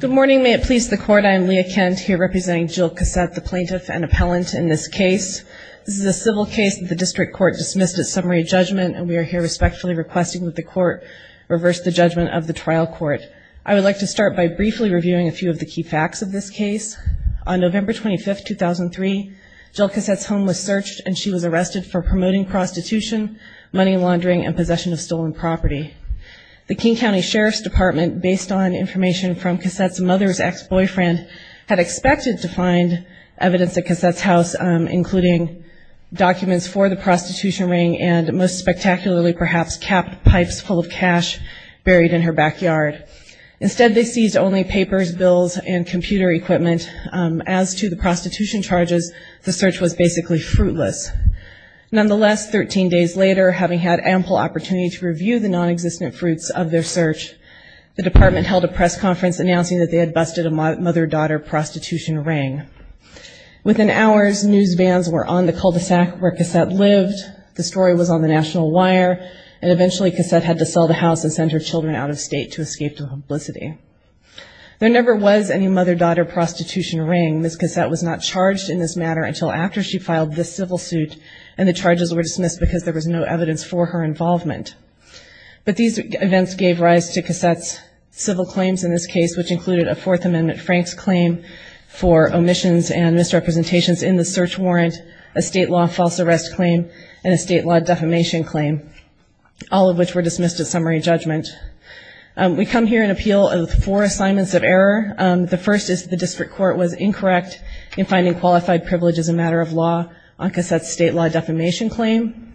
Good morning, may it please the court, I am Leah Kent, here representing Jill Cassette, the plaintiff and appellant in this case. This is a civil case that the district court dismissed as summary judgment, and we are here respectfully requesting that the court reverse the judgment of the trial court. I would like to start by briefly reviewing a few of the key facts of this case. On November 25, 2003, Jill Cassette's home was searched and she was arrested for promoting prostitution, money laundering, and possession of stolen property. The King County Sheriff's Department, based on information from Cassette's mother's ex-boyfriend, had expected to find evidence at Cassette's house, including documents for the prostitution ring and, most spectacularly, perhaps capped pipes full of cash buried in her backyard. Instead, they seized only papers, bills, and computer equipment. As to the prostitution charges, the search was basically fruitless. Nonetheless, 13 days later, having had ample opportunity to review the non-existent fruits of their search, the department held a press conference announcing that they had busted a mother-daughter prostitution ring. Within hours, news vans were on the cul-de-sac where Cassette lived, the story was on the national wire, and eventually Cassette had to sell the house and send her children out of state to escape to publicity. There never was any mother-daughter prostitution ring. Ms. Cassette was not charged in this matter until after she filed this civil suit, and the charges were dismissed because there was no evidence for her involvement. But these events gave rise to Cassette's civil claims in this case, which included a Fourth Amendment Franks claim for omissions and misrepresentations in the search warrant, a state law false arrest claim, and a state law defamation claim, all of which were dismissed at summary judgment. We come here in appeal of four assignments of error. The first is that the district court was incorrect in finding qualified privilege as a matter of law on Cassette's state law defamation claim.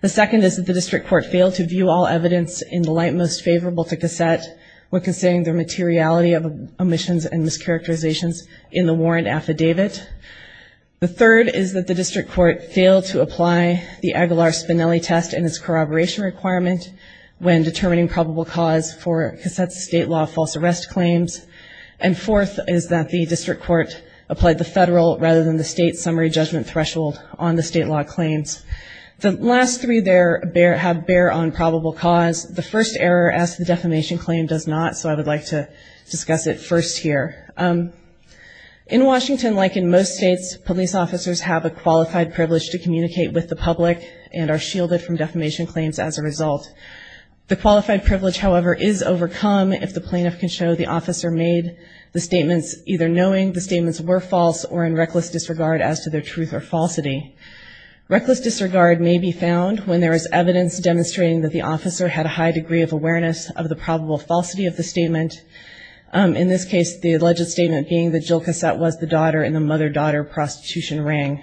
The second is that the district court failed to view all evidence in the light most favorable to Cassette when considering their materiality of omissions and mischaracterizations in the warrant affidavit. The third is that the district court failed to apply the Aguilar-Spinelli test and its corroboration requirement when determining probable cause for Cassette's state law false arrest claims. And fourth is that the district court applied the federal rather than the state summary judgment threshold on the state law claims. The last three there bear on probable cause. The first error as to the defamation claim does not, so I would like to discuss it first here. In Washington, like in most states, police officers have a qualified privilege to communicate with the public and are shielded from defamation claims as a result. The qualified privilege, however, is overcome if the plaintiff can show the officer made the statements either knowing the statements were false or in reckless disregard as to their truth or falsity. Reckless disregard may be found when there is evidence demonstrating that the officer had a high degree of awareness of the probable falsity of the statement. In this case, the alleged statement being that Jill Cassette was the daughter in the mother-daughter prostitution ring.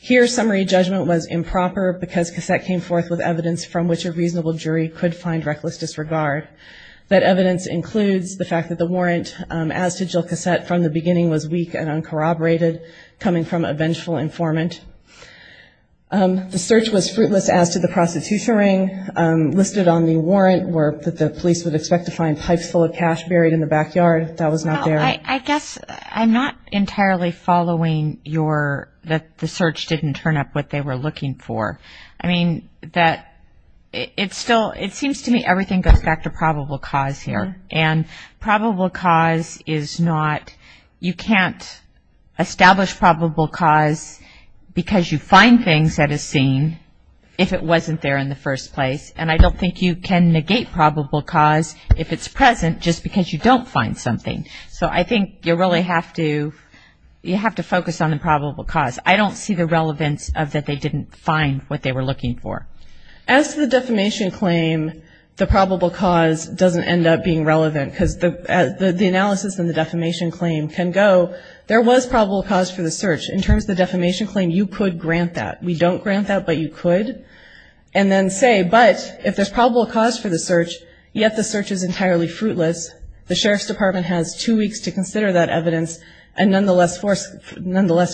Here, summary judgment was improper because Cassette came forth with evidence from which a reasonable jury could find reckless disregard. That evidence includes the fact that the warrant as to Jill Cassette from the beginning was weak and uncorroborated, coming from a vengeful informant. The search was fruitless as to the prostitution ring listed on the warrant where the police would expect to find pipes full of cash buried in the backyard. That was not there. I guess I'm not entirely following your, that the search didn't turn up what they were looking for. I mean, that it's still, it seems to me everything goes back to probable cause here. And probable cause is not, you can't establish probable cause because you find things at a scene if it wasn't there in the first place. And I don't think you can negate probable cause if it's present just because you don't find something. So I think you really have to, you have to focus on the probable cause. I don't see the relevance of that they didn't find what they were looking for. As to the defamation claim, the probable cause doesn't end up being relevant because the analysis and the defamation claim can go, there was probable cause for the search. In terms of the defamation claim, you could grant that. We don't grant that, but you could. And then say, but if there's probable cause for the search, yet the search is entirely fruitless. The Sheriff's Department has two weeks to consider that evidence and nonetheless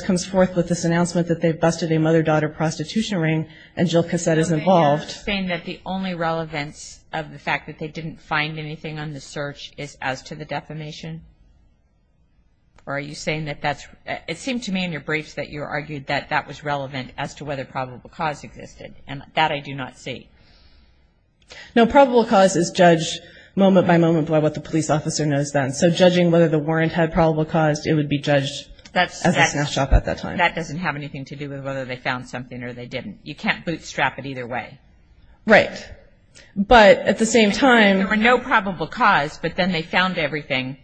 comes forth with this announcement that they've busted a mother-daughter prostitution ring and Jill Cassette isn't there. Are you saying that the only relevance of the fact that they didn't find anything on the search is as to the defamation? Or are you saying that that's, it seemed to me in your briefs that you argued that that was relevant as to whether probable cause existed. And that I do not see. No, probable cause is judged moment by moment by what the police officer knows then. So judging whether the warrant had probable cause, it would be judged as a snapshot at that time. That doesn't have anything to do with whether they found something or they didn't. You can't bootstrap it either way. Right. But at the same time. There were no probable cause, but then they found everything.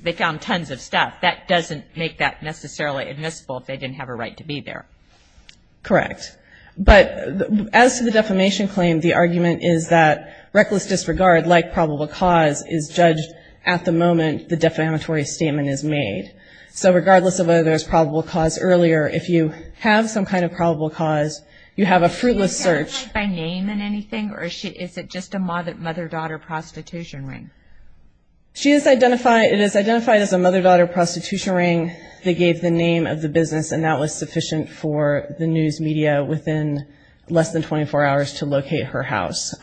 They found tons of stuff. That doesn't make that necessarily admissible if they didn't have a right to be there. Correct. But as to the defamation claim, the argument is that reckless disregard, like probable cause, is judged at the moment the defamatory statement is made. So regardless of whether there's probable cause earlier, if you have some kind of probable cause, you have a fruitless search. Was she identified by name in anything or is it just a mother-daughter prostitution ring? She is identified. It is identified as a mother-daughter prostitution ring. They gave the name of the business and that was sufficient for the news media within less than 24 hours to locate her house.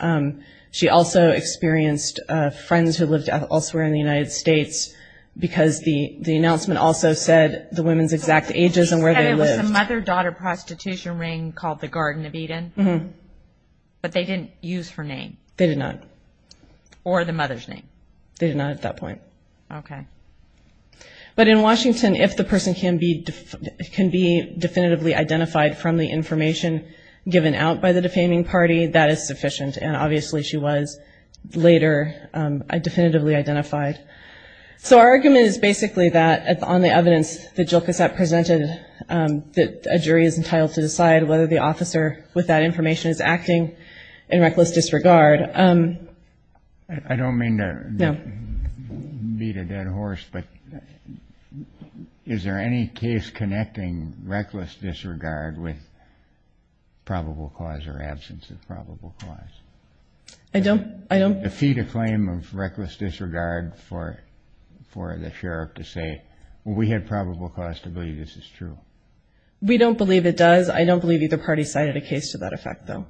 She also experienced friends who lived elsewhere in the United States because the announcement also said the women's exact ages and where they lived. So it's a mother-daughter prostitution ring called the Garden of Eden, but they didn't use her name. They did not. Or the mother's name. They did not at that point. Okay. But in Washington, if the person can be definitively identified from the information given out by the defaming party, that is sufficient. And obviously she was later definitively identified. So our argument is basically that on the evidence that Jill Cassatt presented that a jury is entitled to decide whether the officer with that information is acting in reckless disregard. I don't mean to beat a dead horse, but is there any case connecting reckless disregard with probable cause or absence of probable cause? I don't. Defeat a claim of reckless disregard for the sheriff to say, well, we had probable cause to believe this is true. We don't believe it does. I don't believe either party cited a case to that effect, though.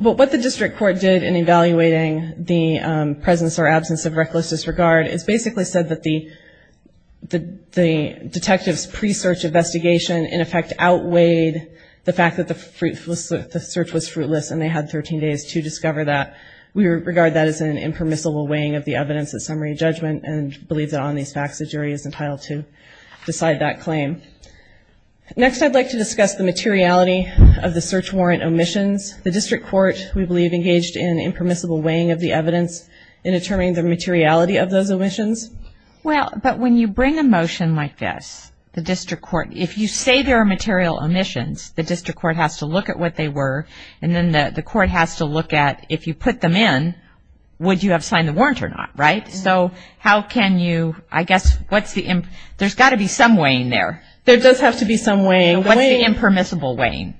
But what the district court did in evaluating the presence or absence of reckless disregard is basically said that the detectives' pre-search investigation, in effect, outweighed the fact that the search was fruitless and they had 13 days to discover that. We regard that as an impermissible weighing of the evidence at summary judgment and believe that on these facts the jury is entitled to decide that claim. Next I'd like to discuss the materiality of the search warrant omissions. The district court, we believe, engaged in impermissible weighing of the evidence in determining the materiality of those omissions. Well, but when you bring a motion like this, the district court, if you say there are material omissions, the district court has to look at what they were and then the court has to look at if you put them in, would you have signed the warrant or not, right? So how can you, I guess, what's the, there's got to be some weighing there. There does have to be some weighing. What's the impermissible weighing?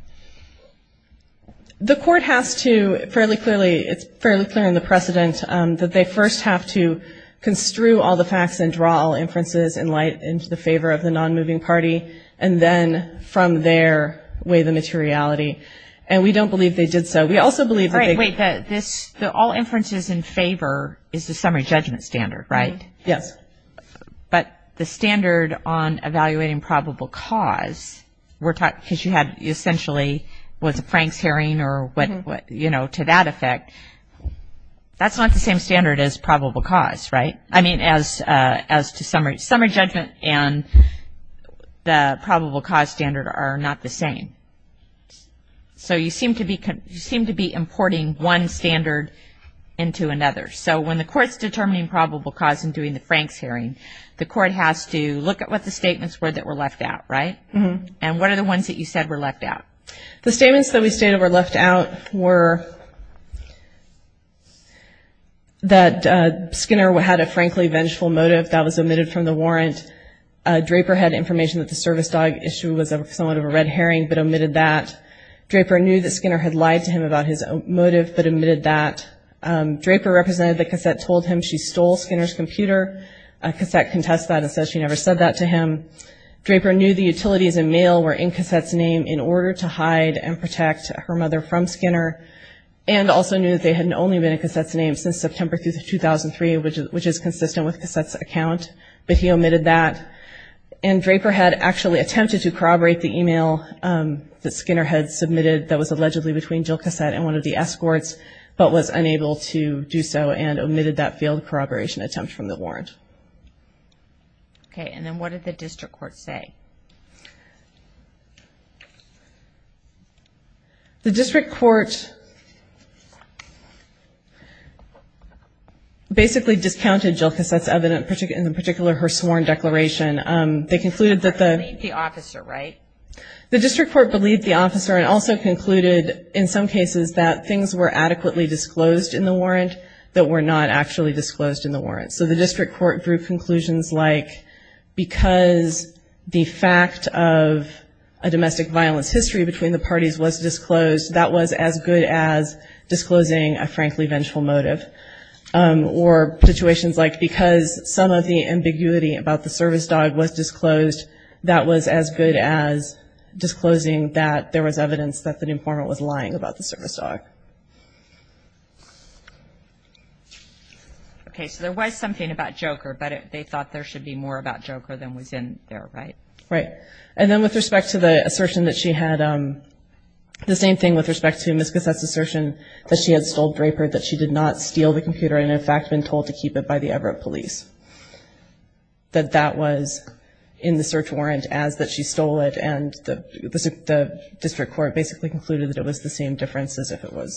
The court has to fairly clearly, it's fairly clear in the precedent that they first have to construe all the facts and draw all inferences in light in favor of the non-moving party and then from there weigh the materiality. And we don't believe they did so. We also believe that they. All inferences in favor is the summary judgment standard, right? Yes. But the standard on evaluating probable cause, because you had essentially was a Frank's hearing or what, you know, to that effect, that's not the same standard as probable cause, right? I mean, as to summary judgment and the probable cause standard are not the same. So you seem to be importing one standard into another. So when the court's determining probable cause and doing the Frank's hearing, the court has to look at what the statements were that were left out, right? And what are the ones that you said were left out? The statements that we stated were left out were that Skinner had a frankly vengeful motive. That was omitted from the warrant. Draper had information that the service dog issue was somewhat of a red herring but omitted that. Draper knew that Skinner had lied to him about his motive but omitted that. Draper represented the cassette, told him she stole Skinner's computer. Cassette contested that and said she never said that to him. Draper knew the utilities and mail were in Cassette's name in order to hide and protect her mother from Skinner and also knew that they had only been in Cassette's name since September 2003, which is consistent with Cassette's account. But he omitted that. And Draper had actually attempted to corroborate the email that Skinner had submitted that was allegedly between Jill Cassette and one of the escorts, but was unable to do so and omitted that failed corroboration attempt from the warrant. Okay, and then what did the district court say? The district court basically discounted Jill Cassette's evidence, in particular her sworn declaration. They concluded that the — They believed the officer, right? The district court believed the officer and also concluded, in some cases, that things were adequately disclosed in the warrant that were not actually disclosed in the warrant. So the district court drew conclusions like, because the fact of a domestic violence history between the parties was disclosed, that was as good as disclosing a frankly vengeful motive. Or situations like, because some of the ambiguity about the service dog was disclosed, that was as good as disclosing that there was evidence that the informant was lying about the service dog. Okay, so there was something about Joker, but they thought there should be more about Joker than was in there, right? Right. And then with respect to the assertion that she had — the same thing with respect to Ms. Cassette's assertion that she had stole Draper, that she did not steal the computer and, in fact, had been told to keep it by the Everett police, that that was in the search warrant as that she stole it, that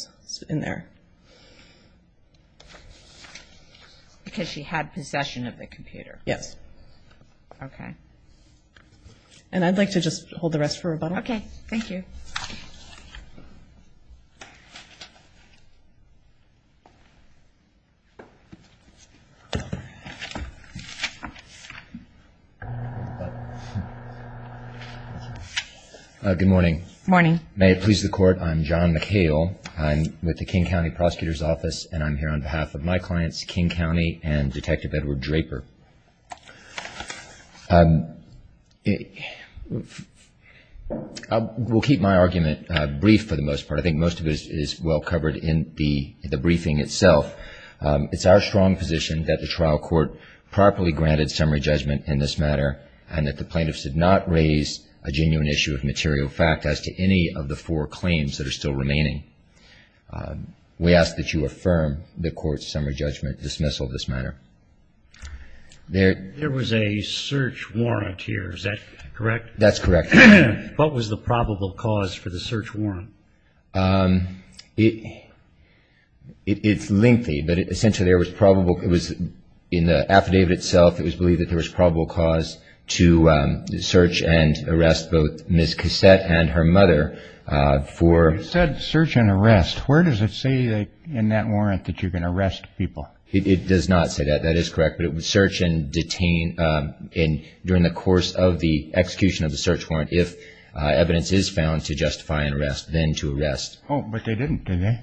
was in there. Because she had possession of the computer. Yes. Okay. And I'd like to just hold the rest for rebuttal. Okay. Thank you. Good morning. Morning. May it please the Court, I'm John McHale. I'm with the King County Prosecutor's Office, and I'm here on behalf of my clients, King County and Detective Edward Draper. We'll keep my argument brief for the most part. I think most of it is well covered in the briefing itself. It's our strong position that the trial court properly granted summary judgment in this matter and that the plaintiffs did not raise a genuine issue of material fact as to any of the four claims that are still remaining. We ask that you affirm the court's summary judgment dismissal of this matter. There was a search warrant here. Is that correct? That's correct. What was the probable cause for the search warrant? It's lengthy, but essentially there was probable — to search and arrest both Ms. Cassette and her mother for — You said search and arrest. Where does it say in that warrant that you can arrest people? It does not say that. That is correct. But it was search and detain during the course of the execution of the search warrant if evidence is found to justify an arrest, then to arrest. Oh, but they didn't, did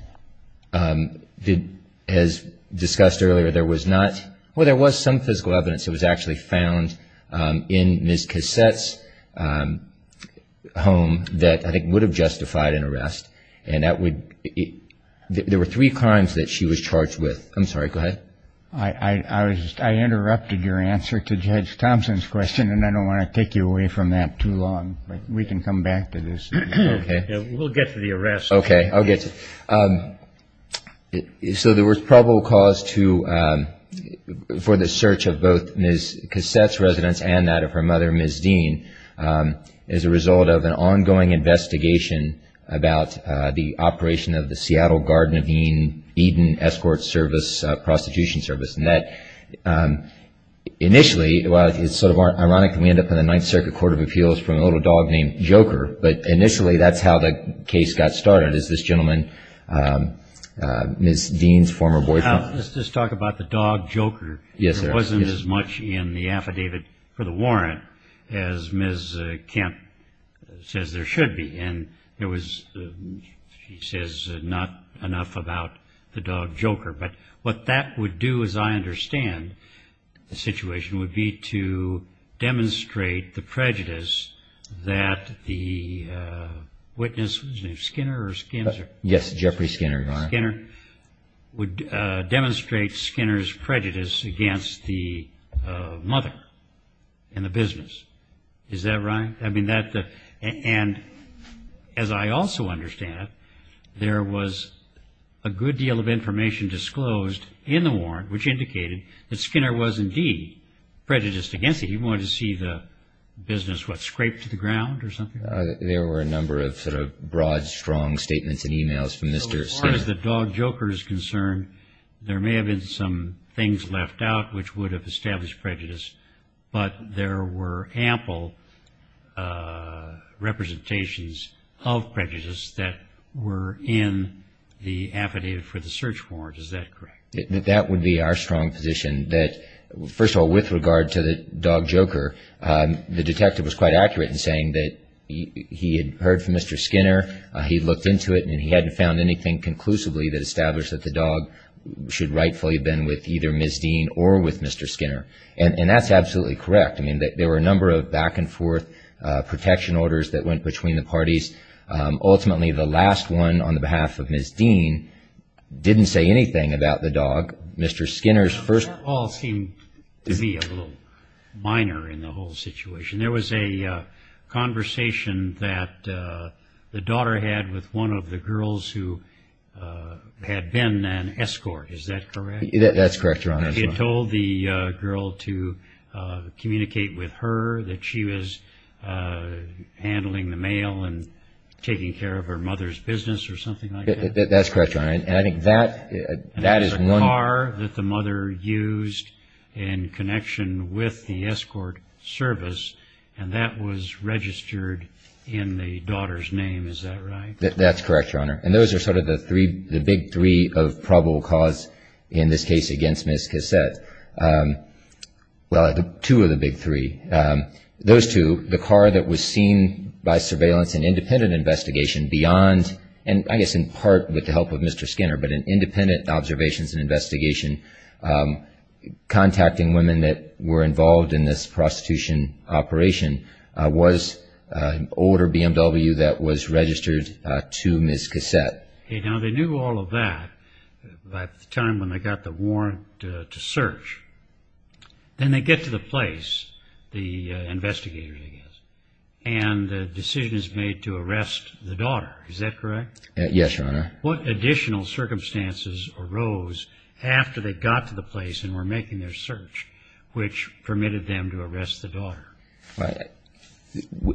they? As discussed earlier, there was not — well, there was some physical evidence. It was actually found in Ms. Cassette's home that I think would have justified an arrest, and that would — there were three crimes that she was charged with. I'm sorry. Go ahead. I interrupted your answer to Judge Thompson's question, and I don't want to take you away from that too long, but we can come back to this. Okay. We'll get to the arrest. Okay. I'll get to it. So there was probable cause for the search of both Ms. Cassette's residence and that of her mother, Ms. Dean, as a result of an ongoing investigation about the operation of the Seattle Garden of Eden Escort Service prostitution service, and that initially — well, it's sort of ironic that we end up in the Ninth Circuit Court of Appeals for a little dog named Joker, but initially that's how the case got started is this gentleman, Ms. Dean's former boyfriend — Let's just talk about the dog Joker. Yes, sir. It wasn't as much in the affidavit for the warrant as Ms. Kent says there should be, and there was — she says not enough about the dog Joker. My question would be to demonstrate the prejudice that the witness — Skinner or Skinser? Yes, Jeffrey Skinner, Your Honor. Skinner would demonstrate Skinner's prejudice against the mother and the business. Is that right? I mean, that — and as I also understand it, there was a good deal of information disclosed in the warrant which indicated that Skinner was indeed prejudiced against it. He wanted to see the business, what, scraped to the ground or something? There were a number of sort of broad, strong statements and e-mails from Mr. Skinner. As far as the dog Joker is concerned, there may have been some things left out which would have established prejudice, but there were ample representations of prejudice that were in the affidavit for the search warrant. Is that correct? That would be our strong position that — first of all, with regard to the dog Joker, the detective was quite accurate in saying that he had heard from Mr. Skinner, he looked into it, and he hadn't found anything conclusively that established that the dog should rightfully have been with either Ms. Dean or with Mr. Skinner. And that's absolutely correct. I mean, there were a number of back-and-forth protection orders that went between the parties. Ultimately, the last one on the behalf of Ms. Dean didn't say anything about the dog. Mr. Skinner's first — That all seemed to be a little minor in the whole situation. There was a conversation that the daughter had with one of the girls who had been an escort. Is that correct? That's correct, Your Honor. She had told the girl to communicate with her that she was handling the mail and taking care of her mother's business or something like that? That's correct, Your Honor. And I think that is one — And there was a car that the mother used in connection with the escort service, and that was registered in the daughter's name. Is that right? That's correct, Your Honor. And those are sort of the three — the big three of probable cause in this case against Ms. Cassette. Well, two of the big three. Those two, the car that was seen by surveillance and independent investigation beyond — and I guess in part with the help of Mr. Skinner, but in independent observations and investigation, contacting women that were involved in this prostitution operation was an older BMW that was registered to Ms. Cassette. Now, they knew all of that by the time when they got the warrant to search. Then they get to the place, the investigators, I guess, and the decision is made to arrest the daughter. Yes, Your Honor. What additional circumstances arose after they got to the place and were making their search, which permitted them to arrest the daughter?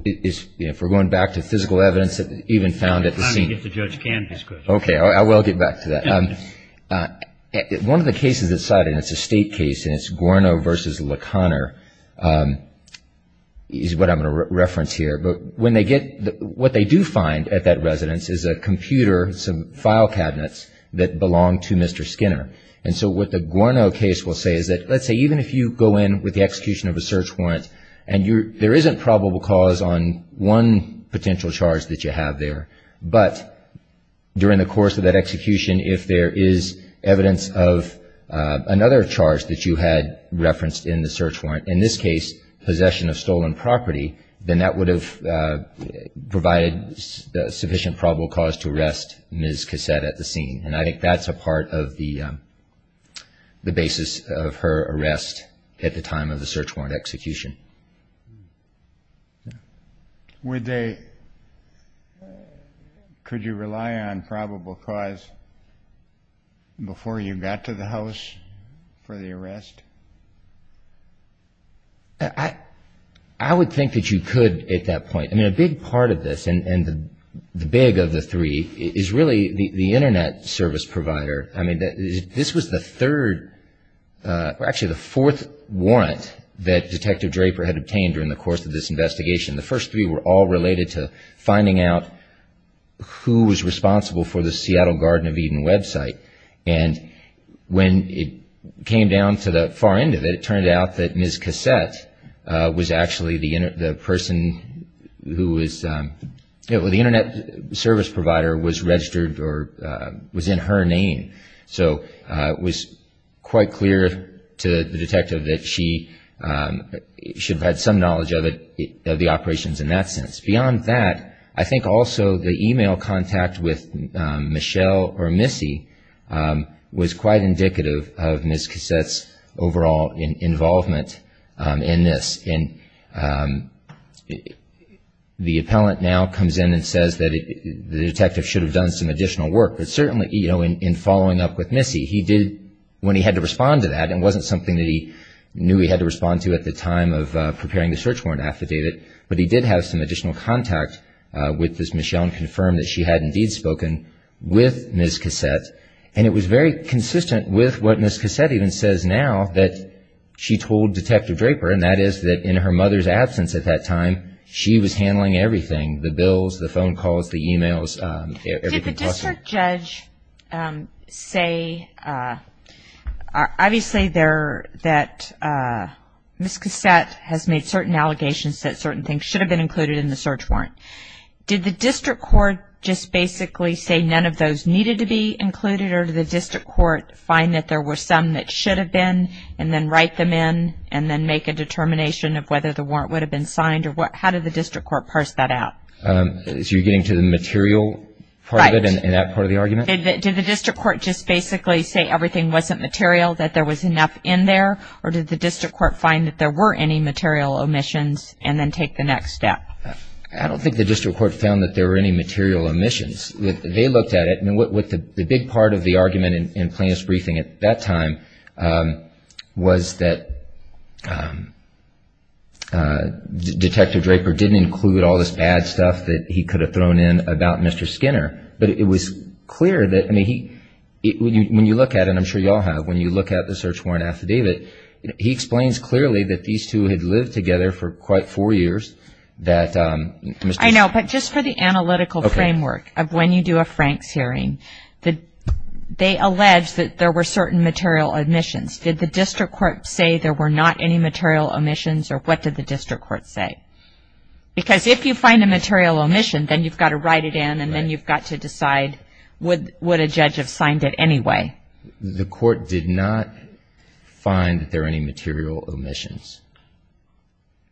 If we're going back to physical evidence that even found at the scene — Time to get to Judge Canby's question. Okay, I will get back to that. One of the cases that's cited, and it's a state case, and it's Guerno v. LeConner, is what I'm going to reference here. But when they get — what they do find at that residence is a computer, some file cabinets that belong to Mr. Skinner. And so what the Guerno case will say is that, let's say, even if you go in with the execution of a search warrant and there isn't probable cause on one potential charge that you have there, but during the course of that execution, if there is evidence of another charge that you had referenced in the search warrant, in this case possession of stolen property, then that would have provided sufficient probable cause to arrest Ms. Cassette at the scene. And I think that's a part of the basis of her arrest at the time of the search warrant execution. Would they — could you rely on probable cause before you got to the house for the arrest? I would think that you could at that point. I mean, a big part of this, and the big of the three, is really the Internet service provider. I mean, this was the third — actually, the fourth warrant that Detective Draper had obtained during the course of this investigation. The first three were all related to finding out who was responsible for the Seattle Garden of Eden website. And when it came down to the far end of it, it turned out that Ms. Cassette was actually the person who was — the Internet service provider was registered or was in her name. So it was quite clear to the detective that she should have had some knowledge of it, of the operations in that sense. Beyond that, I think also the e-mail contact with Michelle or Missy was quite indicative of Ms. Cassette's overall involvement in this. And the appellant now comes in and says that the detective should have done some additional work. But certainly, you know, in following up with Missy, he did — when he had to respond to that, it wasn't something that he knew he had to respond to at the time of preparing the search warrant affidavit, but he did have some additional contact with Ms. Michelle and confirmed that she had indeed spoken with Ms. Cassette. And it was very consistent with what Ms. Cassette even says now that she told Detective Draper, and that is that in her mother's absence at that time, she was handling everything. The bills, the phone calls, the e-mails, everything. Did the district judge say — obviously there that Ms. Cassette has made certain allegations that certain things should have been included in the search warrant. Did the district court just basically say none of those needed to be included, or did the district court find that there were some that should have been and then write them in and then make a determination of whether the warrant would have been signed? How did the district court parse that out? So you're getting to the material part of it and that part of the argument? Did the district court just basically say everything wasn't material, that there was enough in there, or did the district court find that there were any material omissions and then take the next step? I don't think the district court found that there were any material omissions. They looked at it, and the big part of the argument in Plaintiff's briefing at that time was that Detective Draper didn't include all this bad stuff that he could have thrown in about Mr. Skinner. But it was clear that when you look at it, and I'm sure you all have, when you look at the search warrant affidavit, he explains clearly that these two had lived together for quite four years. I know, but just for the analytical framework of when you do a Franks hearing, they allege that there were certain material omissions. Did the district court say there were not any material omissions or what did the district court say? Because if you find a material omission, then you've got to write it in and then you've got to decide would a judge have signed it anyway? The court did not find that there were any material omissions.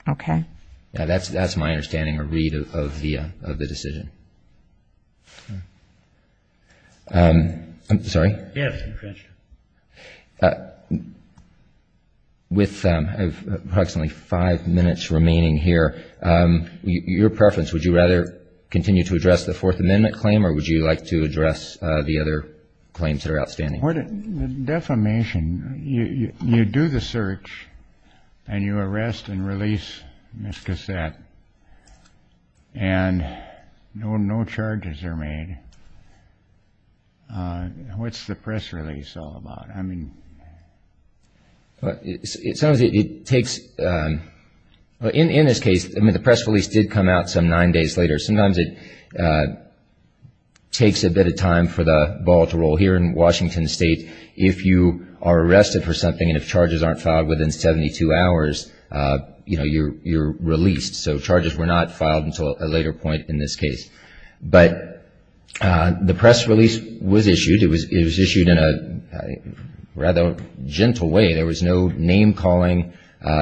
Okay. That's my understanding or read of the decision. Sorry? Yes. With approximately five minutes remaining here, your preference, would you rather continue to address the Fourth Amendment claim or would you like to address the other claims that are outstanding? The defamation, you do the search and you arrest and release Ms. Cassatt and no charges are made. What's the press release all about? In this case, the press release did come out some nine days later. Sometimes it takes a bit of time for the ball to roll. Here in Washington State, if you are arrested for something and if charges aren't filed within 72 hours, you're released. So charges were not filed until a later point in this case. But the press release was issued. It was issued in a rather gentle way. There was no name calling,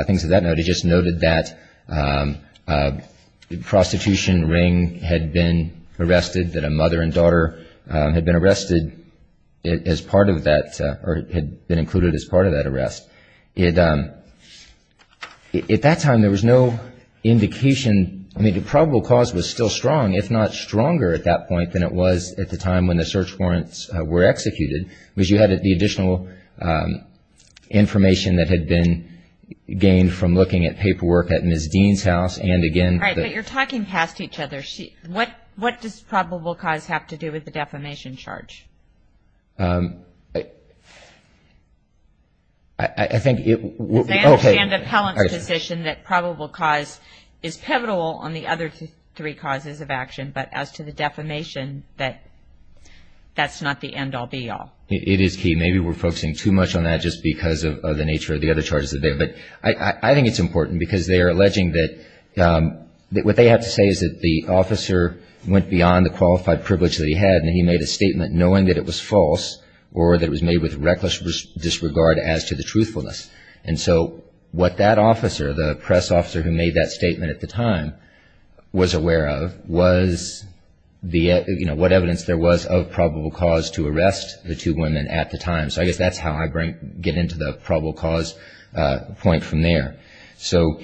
things of that note. They just noted that a prostitution ring had been arrested, that a mother and daughter had been arrested as part of that or had been included as part of that arrest. At that time, there was no indication. I mean, the probable cause was still strong, if not stronger at that point, than it was at the time when the search warrants were executed, because you had the additional information that had been gained from looking at paperwork at Ms. Dean's house and again. All right, but you're talking past each other. What does probable cause have to do with the defamation charge? I think it would be okay. They understand Appellant's position that probable cause is pivotal on the other three causes of action, but as to the defamation, that's not the end-all, be-all. It is key. Maybe we're focusing too much on that just because of the nature of the other charges. But I think it's important because they are alleging that what they have to say is that the officer went beyond the qualified privilege that he had and he made a statement knowing that it was false or that it was made with reckless disregard as to the truthfulness. And so what that officer, the press officer who made that statement at the time, was aware of was what evidence there was of probable cause to arrest the two women at the time. So I guess that's how I get into the probable cause point from there. So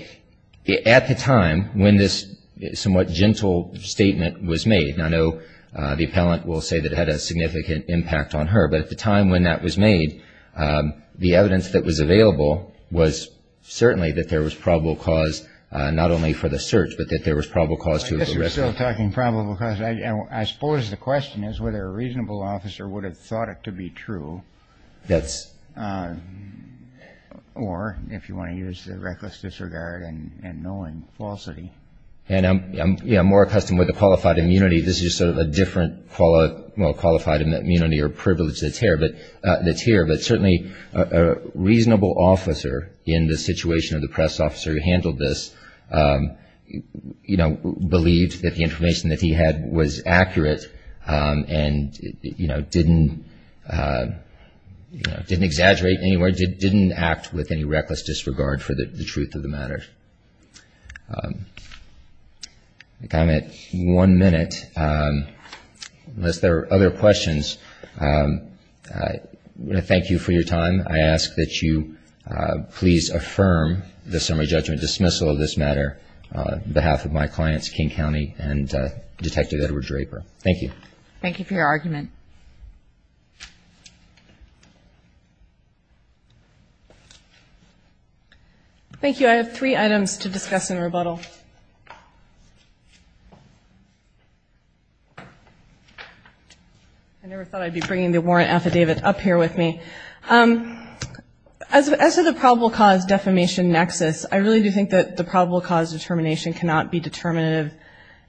at the time when this somewhat gentle statement was made, and I know the Appellant will say that it had a significant impact on her, but at the time when that was made, the evidence that was available was certainly that there was probable cause not only for the search, but that there was probable cause to arrest her. I guess you're still talking probable cause. I suppose the question is whether a reasonable officer would have thought it to be true. That's... Or, if you want to use the reckless disregard and knowing falsity. And I'm more accustomed with the qualified immunity. This is sort of a different qualified immunity or privilege that's here. But certainly a reasonable officer in the situation of the press officer who was, you know, believed that the information that he had was accurate and, you know, didn't, you know, didn't exaggerate anywhere, didn't act with any reckless disregard for the truth of the matter. I'm at one minute, unless there are other questions. I want to thank you for your time. I ask that you please affirm the summary judgment dismissal of this matter on behalf of my clients, King County and Detective Edward Draper. Thank you. Thank you for your argument. Thank you. I have three items to discuss in rebuttal. I never thought I'd be bringing the warrant affidavit up here with me. As to the probable cause defamation nexus, I really do think that the probable cause determination cannot be determinative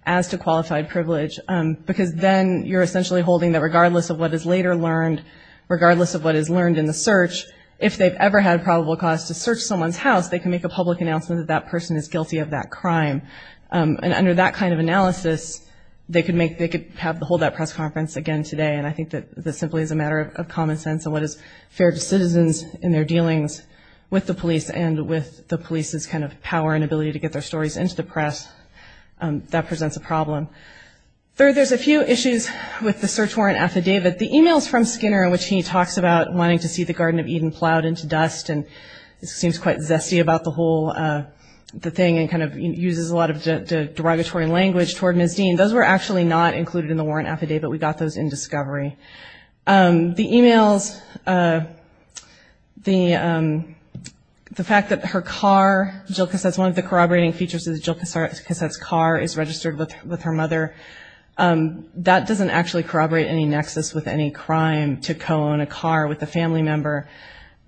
as to qualified privilege because then you're essentially holding that regardless of what is later learned, regardless of what is learned in the search, if they've ever had probable cause to search someone's house, they can make a public announcement that that person is guilty of that crime. And under that kind of analysis, they could make, they could hold that press conference again today. And I think that this simply is a matter of common sense and what is fair to citizens in their dealings with the police and with the police's kind of power and ability to get their stories into the press. That presents a problem. Third, there's a few issues with the search warrant affidavit. The e-mails from Skinner in which he talks about wanting to see the Garden of Eden being plowed into dust and seems quite zesty about the whole thing and kind of uses a lot of derogatory language toward Ms. Dean. Those were actually not included in the warrant affidavit. We got those in discovery. The e-mails, the fact that her car, Jill Cassette's, one of the corroborating features is Jill Cassette's car is registered with her mother. That doesn't actually corroborate any nexus with any crime, to co-own a car with a family member.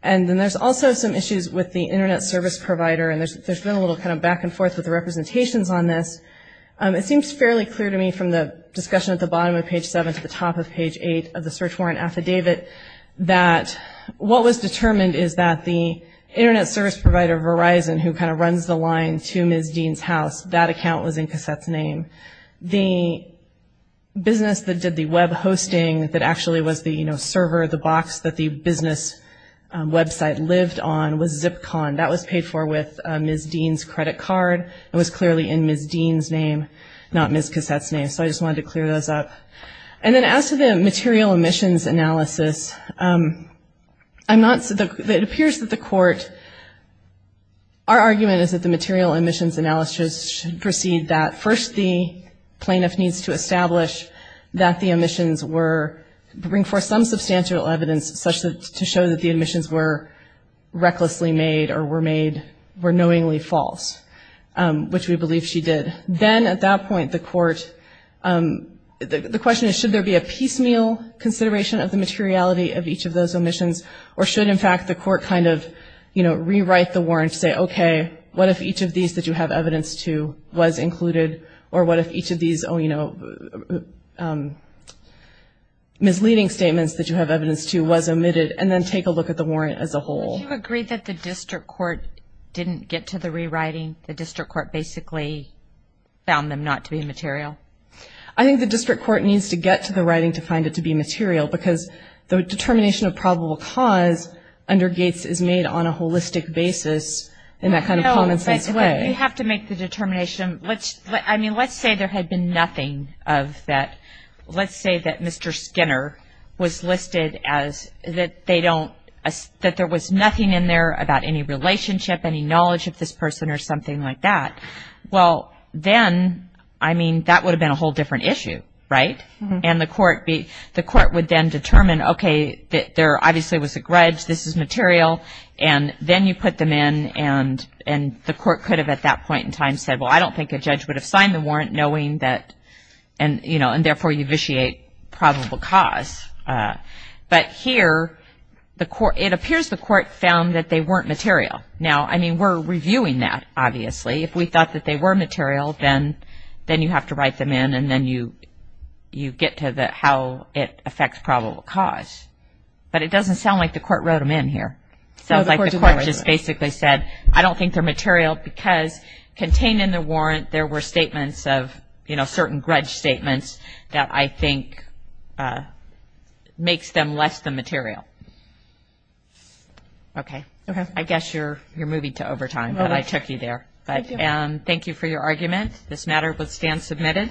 And then there's also some issues with the Internet service provider. And there's been a little kind of back and forth with the representations on this. It seems fairly clear to me from the discussion at the bottom of page seven to the top of page eight of the search warrant affidavit that what was determined is that the Internet service provider, Verizon, who kind of runs the line to Ms. Dean's house, that account was in Cassette's name. The business that did the web hosting that actually was the server, the box that the business website lived on, was Zipcon. That was paid for with Ms. Dean's credit card. It was clearly in Ms. Dean's name, not Ms. Cassette's name. So I just wanted to clear those up. And then as to the material emissions analysis, it appears that the court, our argument is that the material emissions analysis should proceed that, first the plaintiff needs to establish that the emissions were, bring forth some substantial evidence such that, to show that the emissions were recklessly made or were made, were knowingly false, which we believe she did. Then at that point the court, the question is, should there be a piecemeal consideration of the materiality of each of those emissions, or should, in fact, the court kind of, you know, rewrite the warrant to say, okay, what if each of these that you have evidence to was included, or what if each of these misleading statements that you have evidence to was omitted, and then take a look at the warrant as a whole. Would you agree that the district court didn't get to the rewriting? The district court basically found them not to be material? I think the district court needs to get to the writing to find it to be material because the determination of probable cause under Gates is made on a common sense way. No, but you have to make the determination. I mean, let's say there had been nothing of that. Let's say that Mr. Skinner was listed as, that they don't, that there was nothing in there about any relationship, any knowledge of this person or something like that. Well, then, I mean, that would have been a whole different issue, right? And the court would then determine, okay, there obviously was a grudge, this is material, and then you put them in, and the court could have at that point in time said, well, I don't think a judge would have signed the warrant knowing that, you know, and therefore you vitiate probable cause. But here, it appears the court found that they weren't material. Now, I mean, we're reviewing that, obviously. If we thought that they were material, then you have to write them in, and then you get to how it affects probable cause. But it doesn't sound like the court wrote them in here. It sounds like the court just basically said, I don't think they're material because contained in the warrant there were statements of, you know, certain grudge statements that I think makes them less than material. Okay. Okay. I guess you're moving to overtime, but I took you there. Thank you. Thank you for your argument. This matter would stand submitted.